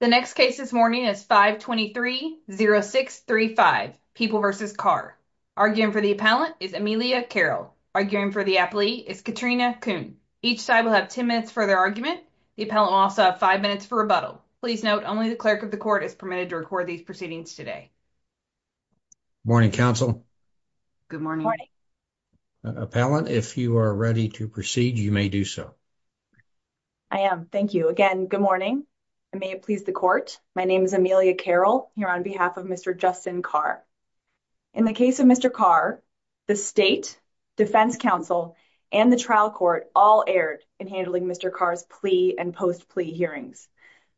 The next case this morning is 523-0635, People v. Carr. Arguing for the appellant is Amelia Carroll. Arguing for the appellee is Katrina Kuhn. Each side will have 10 minutes for their argument. The appellant will also have 5 minutes for rebuttal. Please note, only the clerk of the court is permitted to record these proceedings today. Morning, counsel. Good morning. Appellant, if you are ready to proceed, you may do so. I am. Thank you. Again, good morning. May it please the court. My name is Amelia Carroll, here on behalf of Mr. Justin Carr. In the case of Mr. Carr, the state, defense counsel, and the trial court all erred in handling Mr. Carr's plea and post-plea hearings.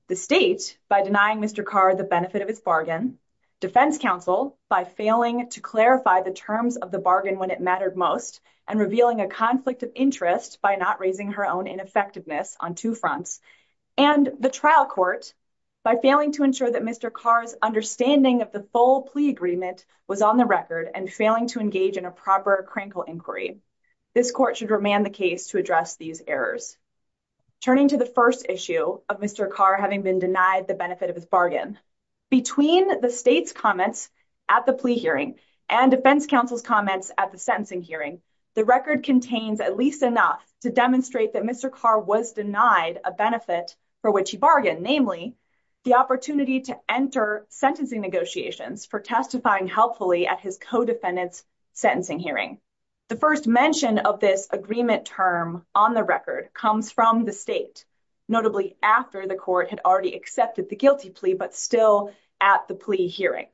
The state, by denying Mr. Carr the benefit of his bargain. Defense counsel, by failing to clarify the terms of the bargain when it mattered most. And revealing a conflict of interest by not raising her own ineffectiveness on two fronts. And the trial court, by failing to ensure that Mr. Carr's understanding of the full plea agreement was on the record, and failing to engage in a proper crankle inquiry. This court should remand the case to address these errors. Turning to the first issue of Mr. Carr having been denied the benefit of his bargain. Between the state's comments at the plea hearing and defense counsel's comments at the sentencing hearing, the record contains at least enough to demonstrate that Mr. Carr was denied a benefit for which he bargained. Namely, the opportunity to enter sentencing negotiations for testifying helpfully at his co-defendant's sentencing hearing. The first mention of this agreement term on the record comes from the state. Notably, after the court had already accepted the guilty plea, but still at the plea hearing.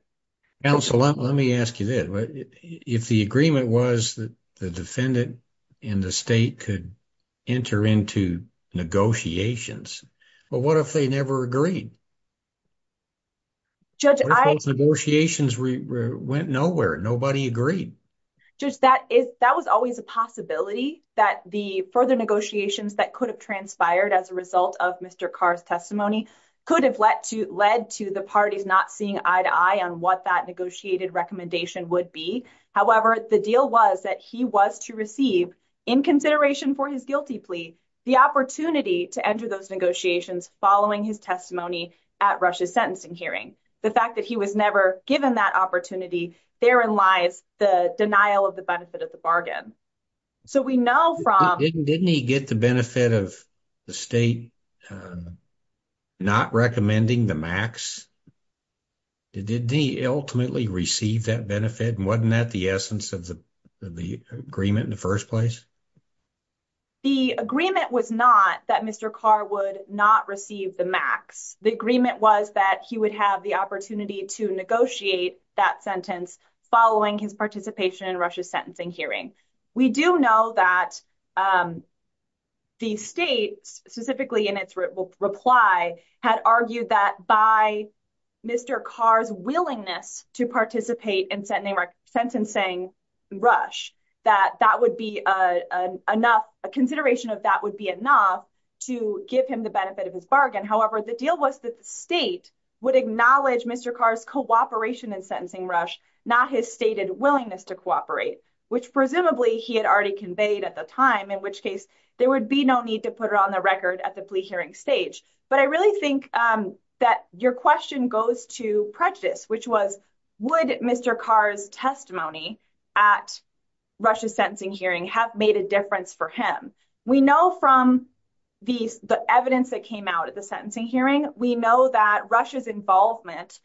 Counsel, let me ask you this. If the agreement was that the defendant and the state could enter into negotiations, but what if they never agreed? Judge, negotiations went nowhere. Nobody agreed. Judge, that was always a possibility that the further negotiations that could have transpired as a result of Mr. Carr's testimony could have led to the parties not seeing eye to eye on what that negotiated recommendation would be. However, the deal was that he was to receive, in consideration for his guilty plea, the opportunity to enter those negotiations following his testimony at Russia's sentencing hearing. The fact that he was never given that opportunity, therein lies the denial of the benefit of the bargain. So we know from... Didn't he get the benefit of the state not recommending the max? Did he ultimately receive that benefit? And wasn't that the essence of the agreement in the first place? The agreement was not that Mr. Carr would not receive the max. The agreement was that he would have the opportunity to negotiate that sentence following his participation in Russia's sentencing hearing. We do know that the state, specifically in its reply, had argued that by Mr. Carr's willingness to participate in sentencing rush, that that would be enough, a consideration of that would be enough to give him the benefit of his bargain. However, the deal was that the state would acknowledge Mr. Carr's cooperation in sentencing rush, not his stated willingness to cooperate, which presumably he had already conveyed at the time, in which case there would be no need to put it on the record at the plea hearing stage. But I really think that your question goes to prejudice, which was, would Mr. Carr's testimony at Russia's sentencing hearing have made a difference for him? We know from the evidence that came out at the sentencing hearing, we know that Russia's involvement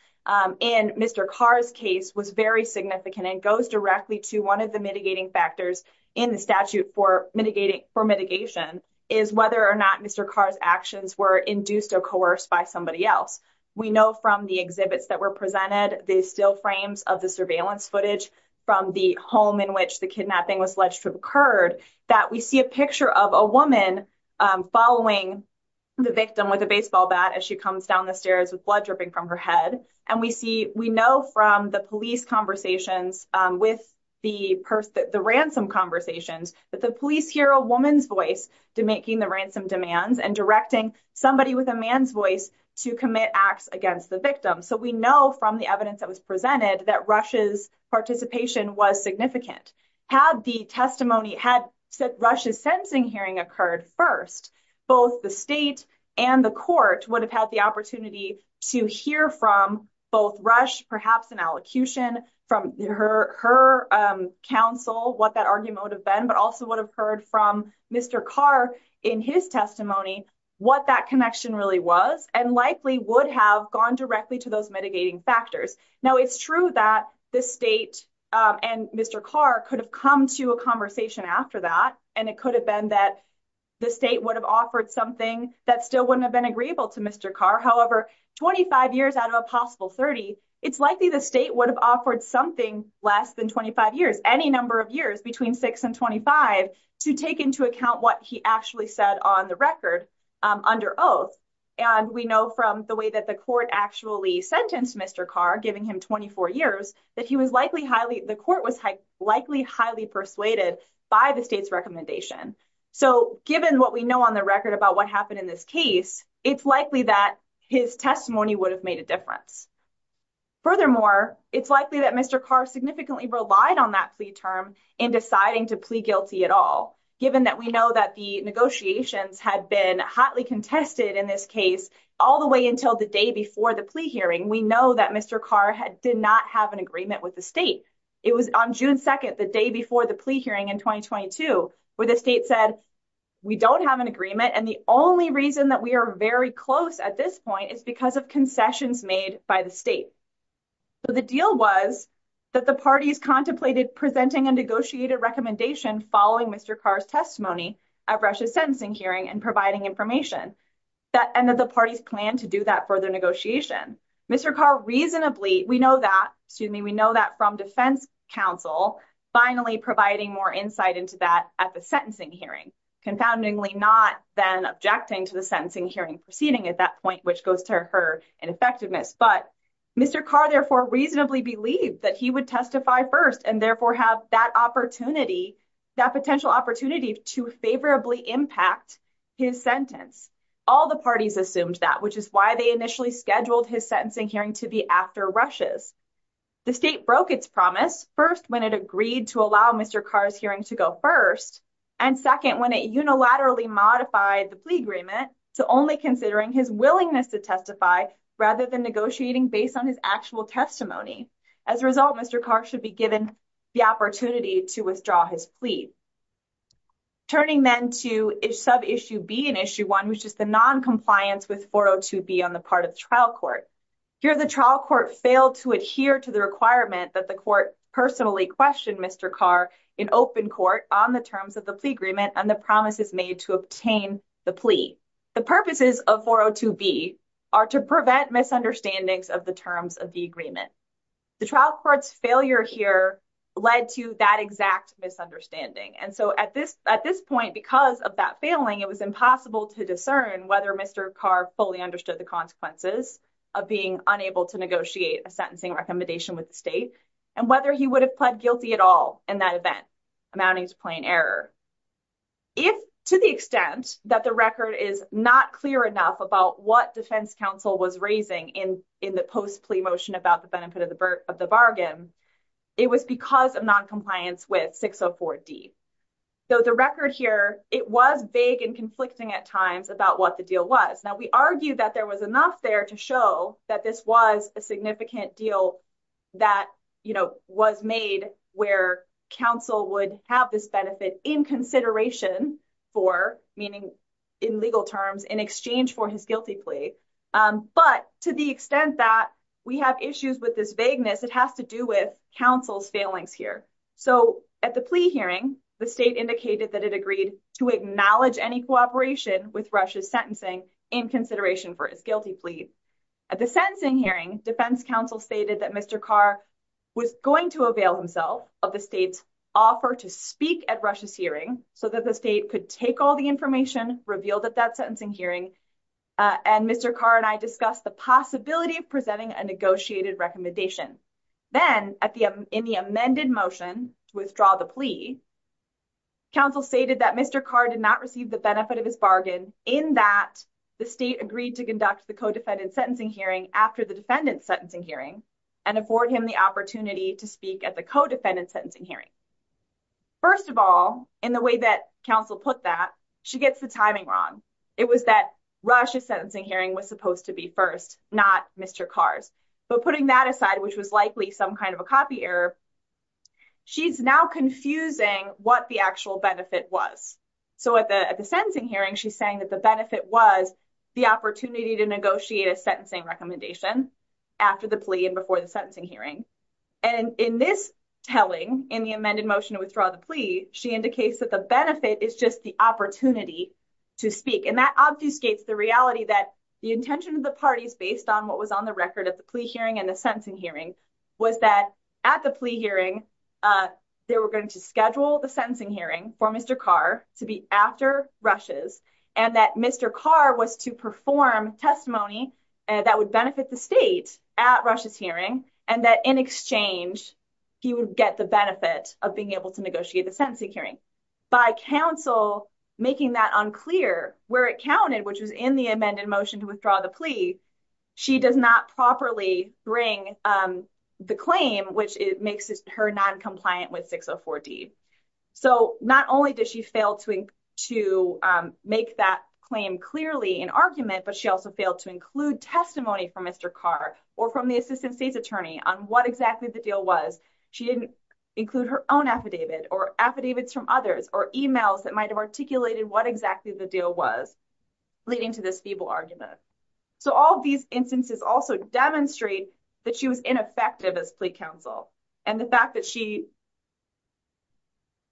in Mr. Carr's case was very significant and goes directly to one of the mitigating factors in the statute for mitigating, for mitigation, is whether or not Mr. Carr's actions were induced or coerced by somebody else. We know from the exhibits that were presented, the still frames of the surveillance footage from the home in which the kidnapping was alleged to have occurred, that we see a picture of a woman following the victim with a baseball bat as she comes down the stairs with blood dripping from her head. And we see, we know from the police conversations with the person, the ransom conversations, that the police hear a woman's voice to making the ransom demands and directing somebody with a man's voice to commit acts against the victim. So we know from the evidence that was presented that Russia's participation was significant. Had the testimony, had Russia's sentencing hearing occurred first, both the state and the court would have had the opportunity to hear from both Russia, perhaps an allocution from her counsel, what that argument would have been, but also would have heard from Mr. Carr in his testimony, what that connection really was and likely would have gone directly to those mitigating factors. Now, it's true that the state and Mr. Carr could have come to a conversation after that, and it could have been that the state would have offered something that still wouldn't have been agreeable to Mr. Carr. However, 25 years out of a possible 30, it's likely the state would have offered something less than 25 years, any number of years between 6 and 25, to take into account what he actually said on the record under oath. And we know from the way that the court actually sentenced Mr. Carr, giving him 24 years, that he was likely highly, the court was likely highly persuaded by the state's recommendation. So given what we know on the record about what happened in this case, it's likely that his testimony would have made a difference. Furthermore, it's likely that Mr. Carr significantly relied on that plea term in deciding to plea guilty at all, given that we know that the negotiations had been hotly contested in this case all the way until the day before the plea hearing. We know that Mr. Carr did not have an agreement with the state. It was on June 2nd, the day before the plea hearing in 2022, where the state said, we don't have an agreement and the only reason that we are very close at this point is because of concessions made by the state. The deal was that the parties contemplated presenting a negotiated recommendation following Mr. Carr's testimony at Russia's sentencing hearing and providing information, and that the parties planned to do that further negotiation. Mr. Carr reasonably, we know that, excuse me, we know that from defense counsel finally providing more insight into that at the sentencing hearing, confoundingly not then objecting to the sentencing hearing proceeding at that point, which goes to her ineffectiveness. But Mr. Carr therefore reasonably believed that he would testify first and therefore have that opportunity, that potential opportunity to favorably impact his sentence. All the parties assumed that, which is why they initially scheduled his sentencing hearing to be after Russia's. The state broke its promise first when it agreed to allow Mr. Carr's hearing to go first, and second, when it unilaterally modified the plea agreement to only considering his willingness to testify rather than negotiating based on his actual testimony. As a result, Mr. Carr should be given the opportunity to withdraw his plea. Turning then to sub-issue B in issue 1, which is the non-compliance with 402B on the part of the trial court. Here, the trial court failed to adhere to the requirement that the court personally questioned Mr. Carr in open court on the terms of the plea agreement and the promises made to obtain the plea. The purposes of 402B are to prevent misunderstandings of the terms of the agreement. The trial court's failure here led to that exact misunderstanding. And so at this point, because of that failing, it was impossible to discern whether Mr. Carr fully understood the consequences of being unable to negotiate a sentencing recommendation with the state and whether he would have pled guilty at all in that event, amounting to plain error. If, to the extent that the record is not clear enough about what Defense Counsel was raising in the post-plea motion about the benefit of the bargain, it was because of non-compliance with 604D. Though the record here, it was vague and conflicting at times about what the deal was. Now, we argue that there was enough there to show that this was a significant deal that, you know, was made where counsel would have this benefit in consideration for, meaning in legal terms, in exchange for his guilty plea. But to the extent that we have issues with this vagueness, it has to do with counsel's failings here. So at the plea hearing, the state indicated that it agreed to acknowledge any cooperation with Russia's sentencing in consideration for its guilty plea. At the sentencing hearing, Defense Counsel stated that Mr. Carr was going to avail himself of the state's offer to speak at Russia's hearing so that the state could take all the information revealed at that sentencing hearing and Mr. Carr and I discussed the possibility of presenting a negotiated recommendation. Then, in the amended motion to withdraw the plea, counsel stated that Mr. Carr did not receive the benefit of his bargain in that the state agreed to conduct the co-defendant sentencing hearing after the defendant's sentencing hearing and afford him the opportunity to speak at the co-defendant's sentencing hearing. First of all, in the way that counsel put that, she gets the timing wrong. It was that Russia's sentencing hearing was supposed to be first, not Mr. Carr's. But putting that aside, which was likely some kind of a copy error, she's now confusing what the actual benefit was. So, at the sentencing hearing, she's saying that the benefit was the opportunity to negotiate a sentencing recommendation after the plea and before the sentencing hearing. And in this telling, in the amended motion to withdraw the plea, she indicates that the benefit is just the opportunity to speak. And that obfuscates the reality that the intention of the parties, based on what was on the record at the plea hearing and the sentencing hearing, was that at the plea hearing, they were going to schedule the sentencing hearing for Mr. Carr to be after Russia's and that Mr. Carr was to perform testimony that would benefit the state at Russia's hearing and that in exchange, he would get the benefit of being able to negotiate the sentencing hearing. By counsel making that unclear where it counted, which was in the amended motion to withdraw the plea, she does not properly bring the claim, which makes her non-compliant with 604D. So, not only does she fail to make that claim clearly in argument, but she also failed to include testimony from Mr. Carr or from the assistant state's attorney on what exactly the deal was. She didn't include her own affidavit or affidavits from others or emails that might have articulated what exactly the deal was leading to this feeble argument. So, all of these instances also demonstrate that she was ineffective as plea counsel. And the fact that she…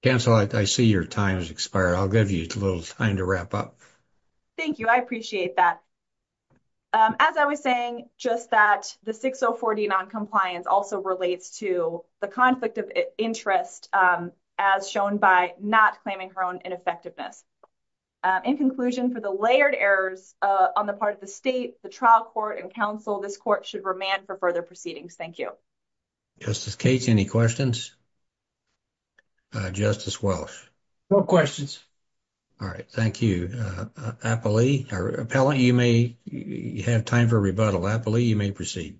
Counsel, I see your time has expired. I'll give you a little time to wrap up. Thank you. I appreciate that. As I was saying, just that the 604D non-compliance also relates to the conflict of interest as shown by not claiming her own ineffectiveness. In conclusion, for the layered errors on the part of the state, the trial court, and counsel, this court should remand for further proceedings. Thank you. Justice Cates, any questions? Justice Welsh? No questions. All right. Thank you. Appellee, or appellant, you may have time for rebuttal. Appellee, you may proceed.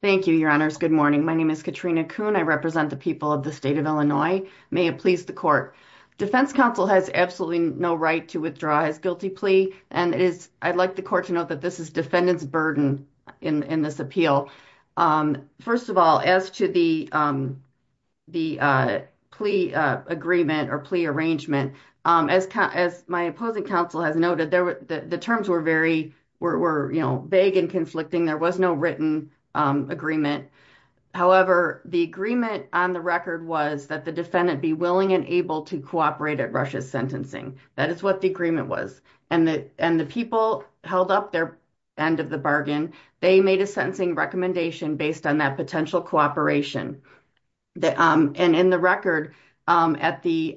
Thank you, Your Honors. Good morning. My name is Katrina Kuhn. I represent the people of the state of Illinois. May it please the court. Defense counsel has absolutely no right to withdraw his guilty plea. And I'd like the court to note that this is defendant's burden in this appeal. First of all, as to the plea agreement or plea arrangement, as my opposing counsel has noted, the terms were vague and conflicting. There was no written agreement. However, the agreement on the record was that the defendant be willing and able to cooperate at Russia's sentencing. That is what the agreement was. And the people held up their end of the bargain. They made a sentencing recommendation based on that potential cooperation. And in the record, at the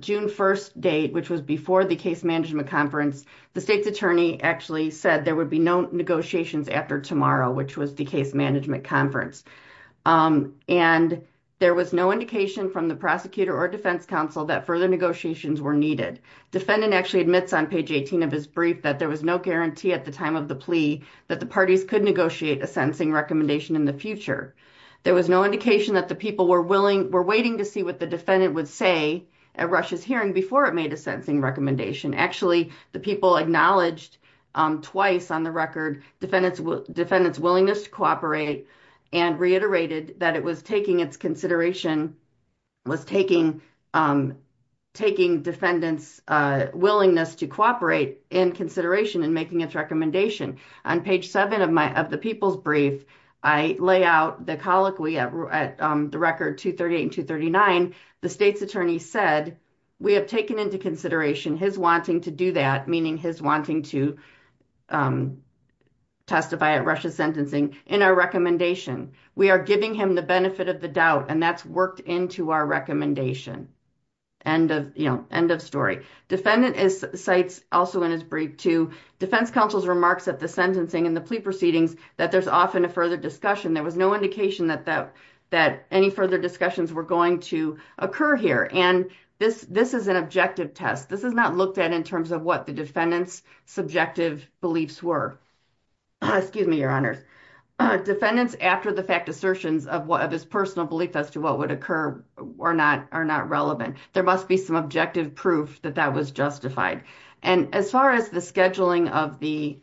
June 1st date, which was before the case management conference, the state's attorney actually said there would be no negotiations after tomorrow, which was the case management conference. And there was no indication from the prosecutor or defense counsel that further negotiations were needed. Defendant actually admits on page 18 of his brief that there was no guarantee at the time of the plea that the parties could negotiate a sentencing recommendation in the future. There was no indication that the people were waiting to see what the defendant would say at Russia's hearing before it made a sentencing recommendation. Actually, the people acknowledged twice on the record, defendant's willingness to cooperate and reiterated that it was taking its consideration, was taking defendant's willingness to cooperate in consideration in making its recommendation. On page 7 of the people's brief, I lay out the colloquy at the record 238 and 239. The state's attorney said, we have taken into consideration his wanting to do that, meaning his wanting to testify at Russia's sentencing in our recommendation. We are giving him the benefit of the doubt and that's worked into our recommendation. End of story. Defendant cites also in his brief to defense counsel's remarks at the sentencing and the plea proceedings that there's often a further discussion. There was no indication that any further discussions were going to occur here. And this is an objective test. This is not looked at in terms of what the defendant's subjective beliefs were. Excuse me, your honors. Defendants, after the fact assertions of his personal belief as to what would occur are not relevant. There must be some objective proof that that was justified. And as far as the scheduling of the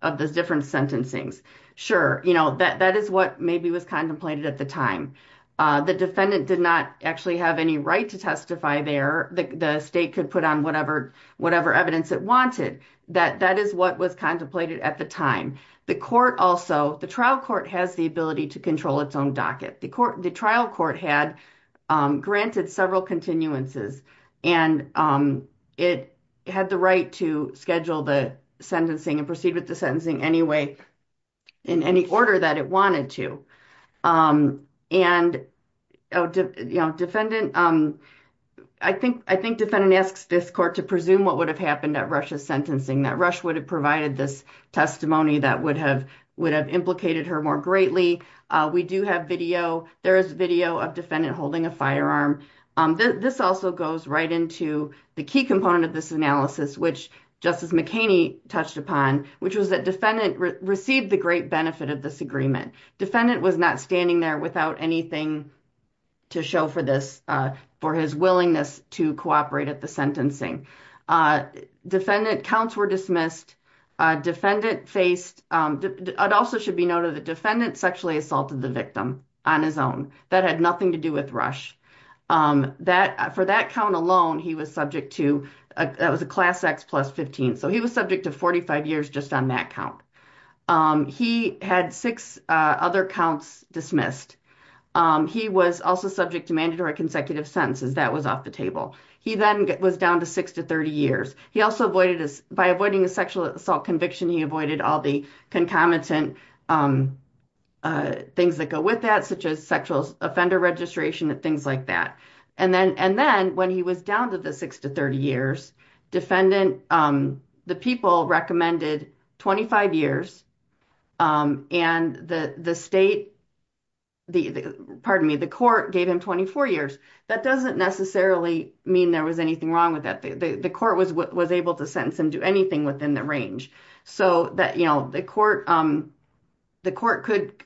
different sentencings, sure, you know, that is what maybe was contemplated at the time. The defendant did not actually have any right to testify there. The state could put on whatever evidence it wanted. That is what was contemplated at the time. The court also, the trial court has the ability to control its own docket. The trial court had granted several continuances and it had the right to schedule the sentencing and proceed with the sentencing anyway in any order that it wanted to. And, you know, defendant, I think defendant asks this court to presume what would have happened at Rush's sentencing, that Rush would have provided this testimony that would have implicated her more greatly. We do have video. There is video of defendant holding a firearm. This also goes right into the key component of this analysis, which Justice McHaney touched upon, which was that defendant received the great benefit of this agreement. Defendant was not standing there without anything to show for this, for his willingness to cooperate at the sentencing. Defendant counts were dismissed. Defendant faced, it also should be noted that defendant sexually assaulted the victim on his own. That had nothing to do with Rush. That, for that count alone, he was subject to, that was a class X plus 15. So he was subject to 45 years just on that count. He had six other counts dismissed. He was also subject to mandatory consecutive sentences. That was off the table. He then was down to six to 30 years. He also avoided, by avoiding a sexual assault conviction, he avoided all the concomitant things that go with that, such as sexual offender registration and things like that. And then when he was down to the six to 30 years, defendant, the people recommended 25 years and the state, the, pardon me, the court gave him 24 years. That doesn't necessarily mean there was anything wrong with that. The court was able to sentence him to anything within the range. So that, you know, the court, the court could,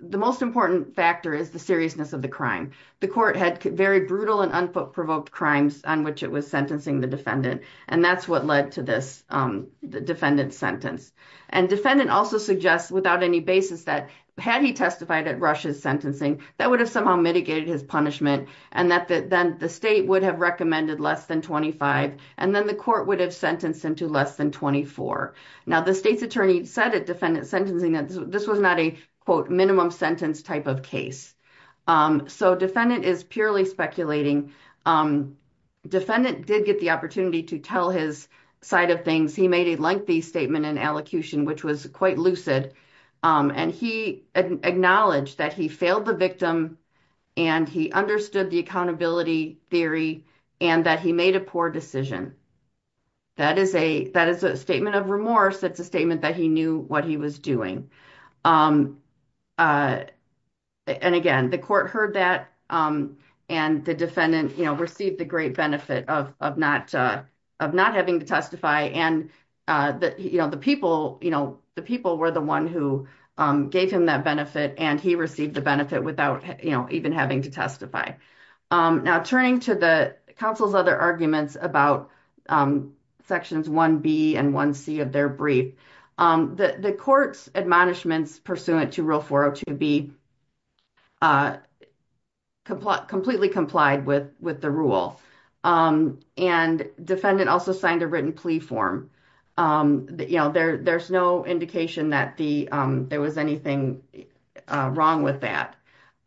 the most important factor is the seriousness of the crime. The court had very brutal and unprovoked crimes on which it was sentencing the defendant. And that's what led to this defendant sentence. And defendant also suggests without any basis that had he testified at Rush's sentencing, that would have somehow mitigated his punishment and that then the state would have recommended less than 25. And then the court would have sentenced him to less than 24. Now the state's attorney said at defendant sentencing that this was not a quote minimum sentence type of case. So defendant is purely speculating. Defendant did get the opportunity to tell his side of things. He made a lengthy statement in allocution, which was quite lucid. And he acknowledged that he failed the victim and he understood the accountability theory and that he made a poor decision. That is a statement of remorse. That's a statement that he knew what he was doing. And again, the court heard that and the defendant received the great benefit of not having to testify. And the people were the one who gave him that benefit and he received the benefit without even having to testify. Now, turning to the counsel's other arguments about sections 1B and 1C of their brief. The court's admonition was that the punishments pursuant to Rule 402B completely complied with the rule. And defendant also signed a written plea form. There's no indication that there was anything wrong with that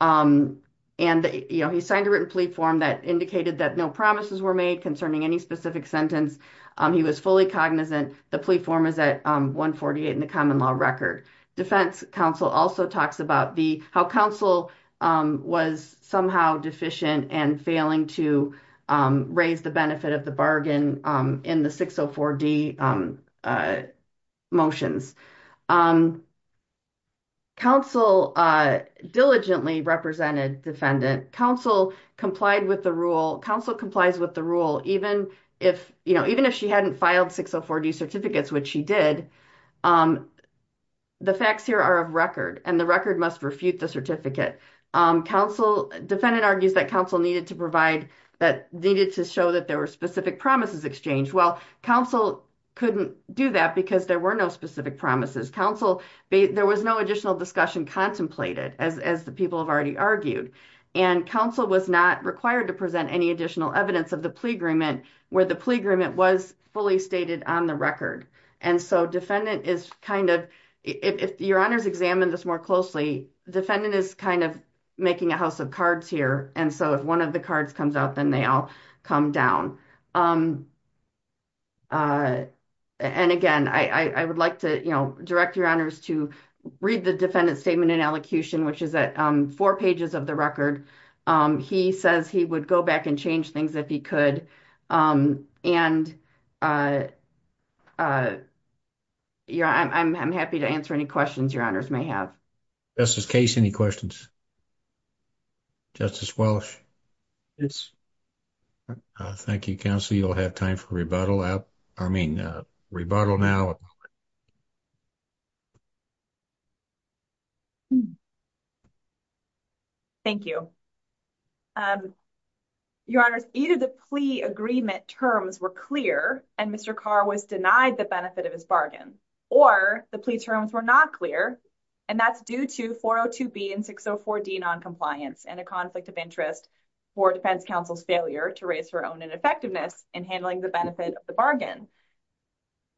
and he signed a written plea form that indicated that no promises were made concerning any specific sentence. He was fully cognizant. The plea form is at 148 in the common law record. Defense counsel also talks about how counsel was somehow deficient and failing to raise the benefit of the bargain in the 604D motions. Counsel diligently represented defendant. Counsel complied with the rule. Counsel complies with the rule even if she hadn't filed 604D certificates, which she did. The facts here are of record and the record must refute the certificate. Defendant argues that counsel needed to provide, that needed to show that there were specific promises exchanged. Well, counsel couldn't do that because there were no specific promises. Counsel, there was no additional discussion contemplated as the people have already argued. And counsel was not required to present any additional evidence of the plea agreement where the plea agreement was fully stated on the record. And so defendant is kind of, if your honors examined this more closely, defendant is kind of making a house of cards here. And so if one of the cards comes out, then they all come down. And again, I would like to direct your honors to read the defendant's statement in elocution, which is at four pages of the record. He says he would go back and change things if he could. And I'm happy to answer any questions your honors may have. Justice Case, any questions? Justice Welsh? Yes. Thank you, counsel. You'll have time for rebuttal. I mean, rebuttal now. You have a moment. Thank you. Your honors, either the plea agreement terms were clear and Mr. Carr was denied the benefit of his bargain, or the plea terms were not clear. And that's due to 402B and 604D noncompliance and a conflict of interest for defense counsel's failure to raise her own ineffectiveness in handling the benefit of the bargain.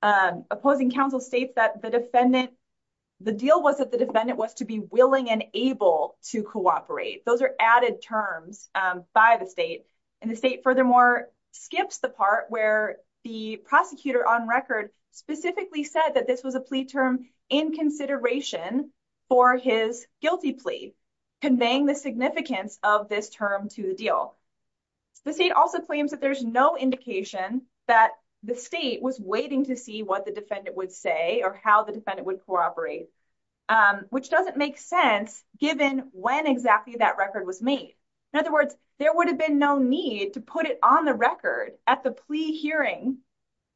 Opposing counsel states that the defendant, the deal was that the defendant was to be willing and able to cooperate. Those are added terms by the state. And the state furthermore skips the part where the prosecutor on record specifically said that this was a plea term in consideration for his guilty plea, conveying the significance of this term to the deal. The state also claims that there's no indication that the state was waiting to see what the defendant would say or how the defendant would cooperate, which doesn't make sense given when exactly that record was made. In other words, there would have been no need to put it on the record at the plea hearing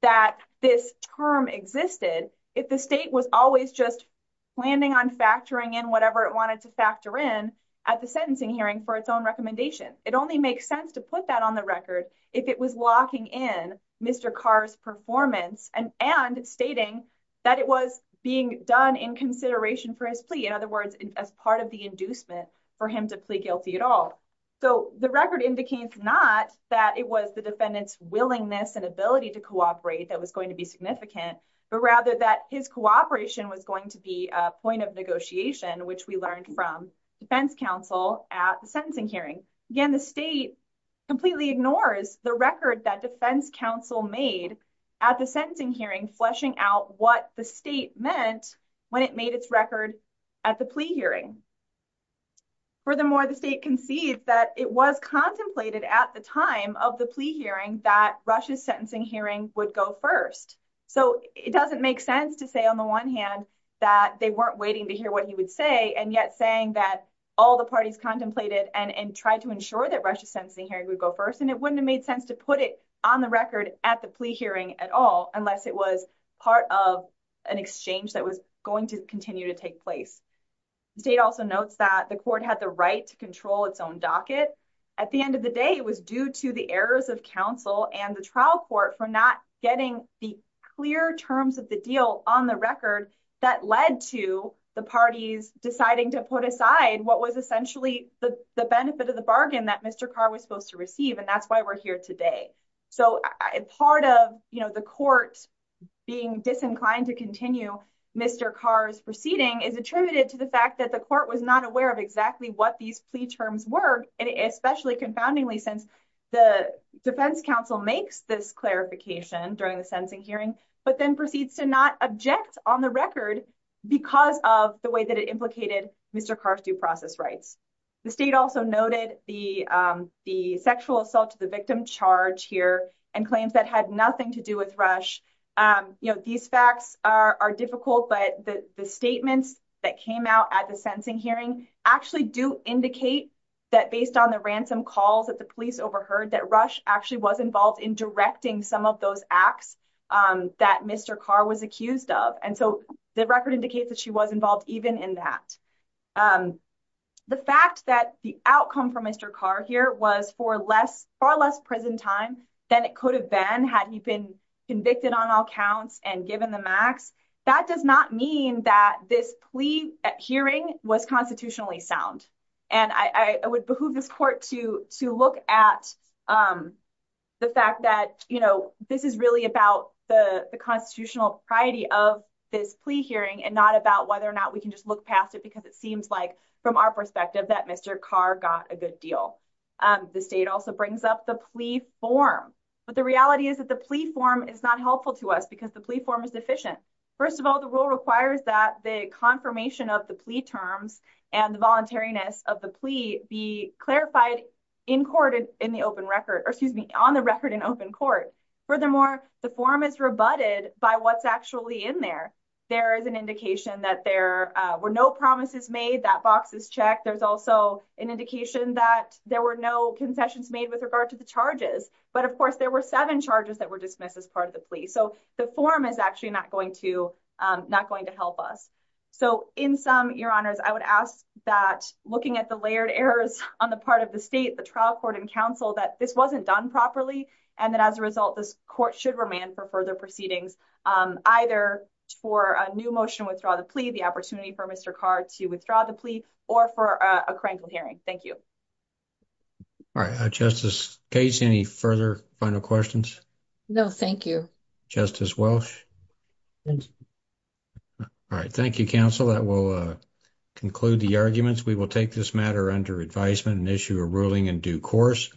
that this term existed, if the state was always just planning on factoring in whatever it wanted to factor in at the sentencing hearing for its own recommendation. It only makes sense to put that on the record if it was locking in Mr. Carr's performance and stating that it was being done in consideration for his plea. In other words, as part of the inducement for him to plea guilty at all. So the record indicates not that it was the defendant's willingness and ability to cooperate that was going to be significant, but rather that his cooperation was going to be a point of negotiation, which we learned from defense counsel at the sentencing hearing. Again, the state completely ignores the record that defense counsel made at the sentencing hearing, fleshing out what the state meant when it made its record at the plea hearing. Furthermore, the state concedes that it was contemplated at the time of the plea hearing that Rush's sentencing hearing would go first. So it doesn't make sense to say on the one hand that they weren't waiting to hear what he would say and yet saying that all the parties contemplated and tried to ensure that Rush's sentencing hearing would go first and it wouldn't have made sense to put it on the record at the plea hearing at all unless it was part of an exchange that was going to continue to take place. The state also notes that the court had the right to control its own docket. At the end of the day, it was due to the errors of counsel and the trial court for not getting the clear terms of the deal on the record that led to the parties deciding to put aside what was essentially the benefit of the bargain that Mr. Carr was supposed to receive. And that's why we're here today. So part of the court being disinclined to continue Mr. Carr's proceeding is attributed to the fact that the court was not aware of exactly what these plea terms were, and especially confoundingly, since the defense counsel makes this clarification during the sentencing hearing, but then proceeds to not object on the record because of the way that it implicated Mr. Carr's due process rights. The state also noted the sexual assault to the victim charge here and claims that had nothing to do with Rush. These facts are difficult, but the statements that came out at the sentencing hearing actually do indicate that based on the ransom calls that the police overheard that Rush actually was involved in directing some of those acts that Mr. Carr was accused of. And so the record indicates that she was involved even in that. The fact that the outcome for Mr. Carr here was for far less prison time than it could have been had he been convicted on all counts and given the max, that does not mean that this plea hearing was constitutionally sound. And I would behoove this court to look at the fact that this is really about the constitutional priority of this plea hearing and not about whether or not we can just look past it because it seems like from our perspective that Mr. Carr got a good deal. The state also brings up the plea form, but the reality is that the plea form is not helpful to us because the plea form is deficient. First of all, the rule requires that the confirmation of the plea terms and the voluntariness of the plea be clarified in court in the open record, or excuse me, on the record in open court. Furthermore, the form is rebutted by what's actually in there. There is an indication that there were no promises made, that box is checked. There's also an indication that there were no concessions made with regard to the charges. But of course, there were seven charges that were dismissed as part of the plea. So the form is actually not going to help us. So in sum, your honors, I would ask that looking at the layered errors on the part of the state, the trial court and counsel, that this wasn't done properly, and that as a result, this court should remand for further proceedings, either for a new motion to withdraw the plea, the opportunity for Mr. Carr to withdraw the plea, or for a crankled hearing. Thank you. All right, Justice Case, any further final questions? No, thank you. Justice Welsh? Thank you. All right, thank you, counsel. That will conclude the arguments. We will take this matter under advisement and issue a ruling in due course.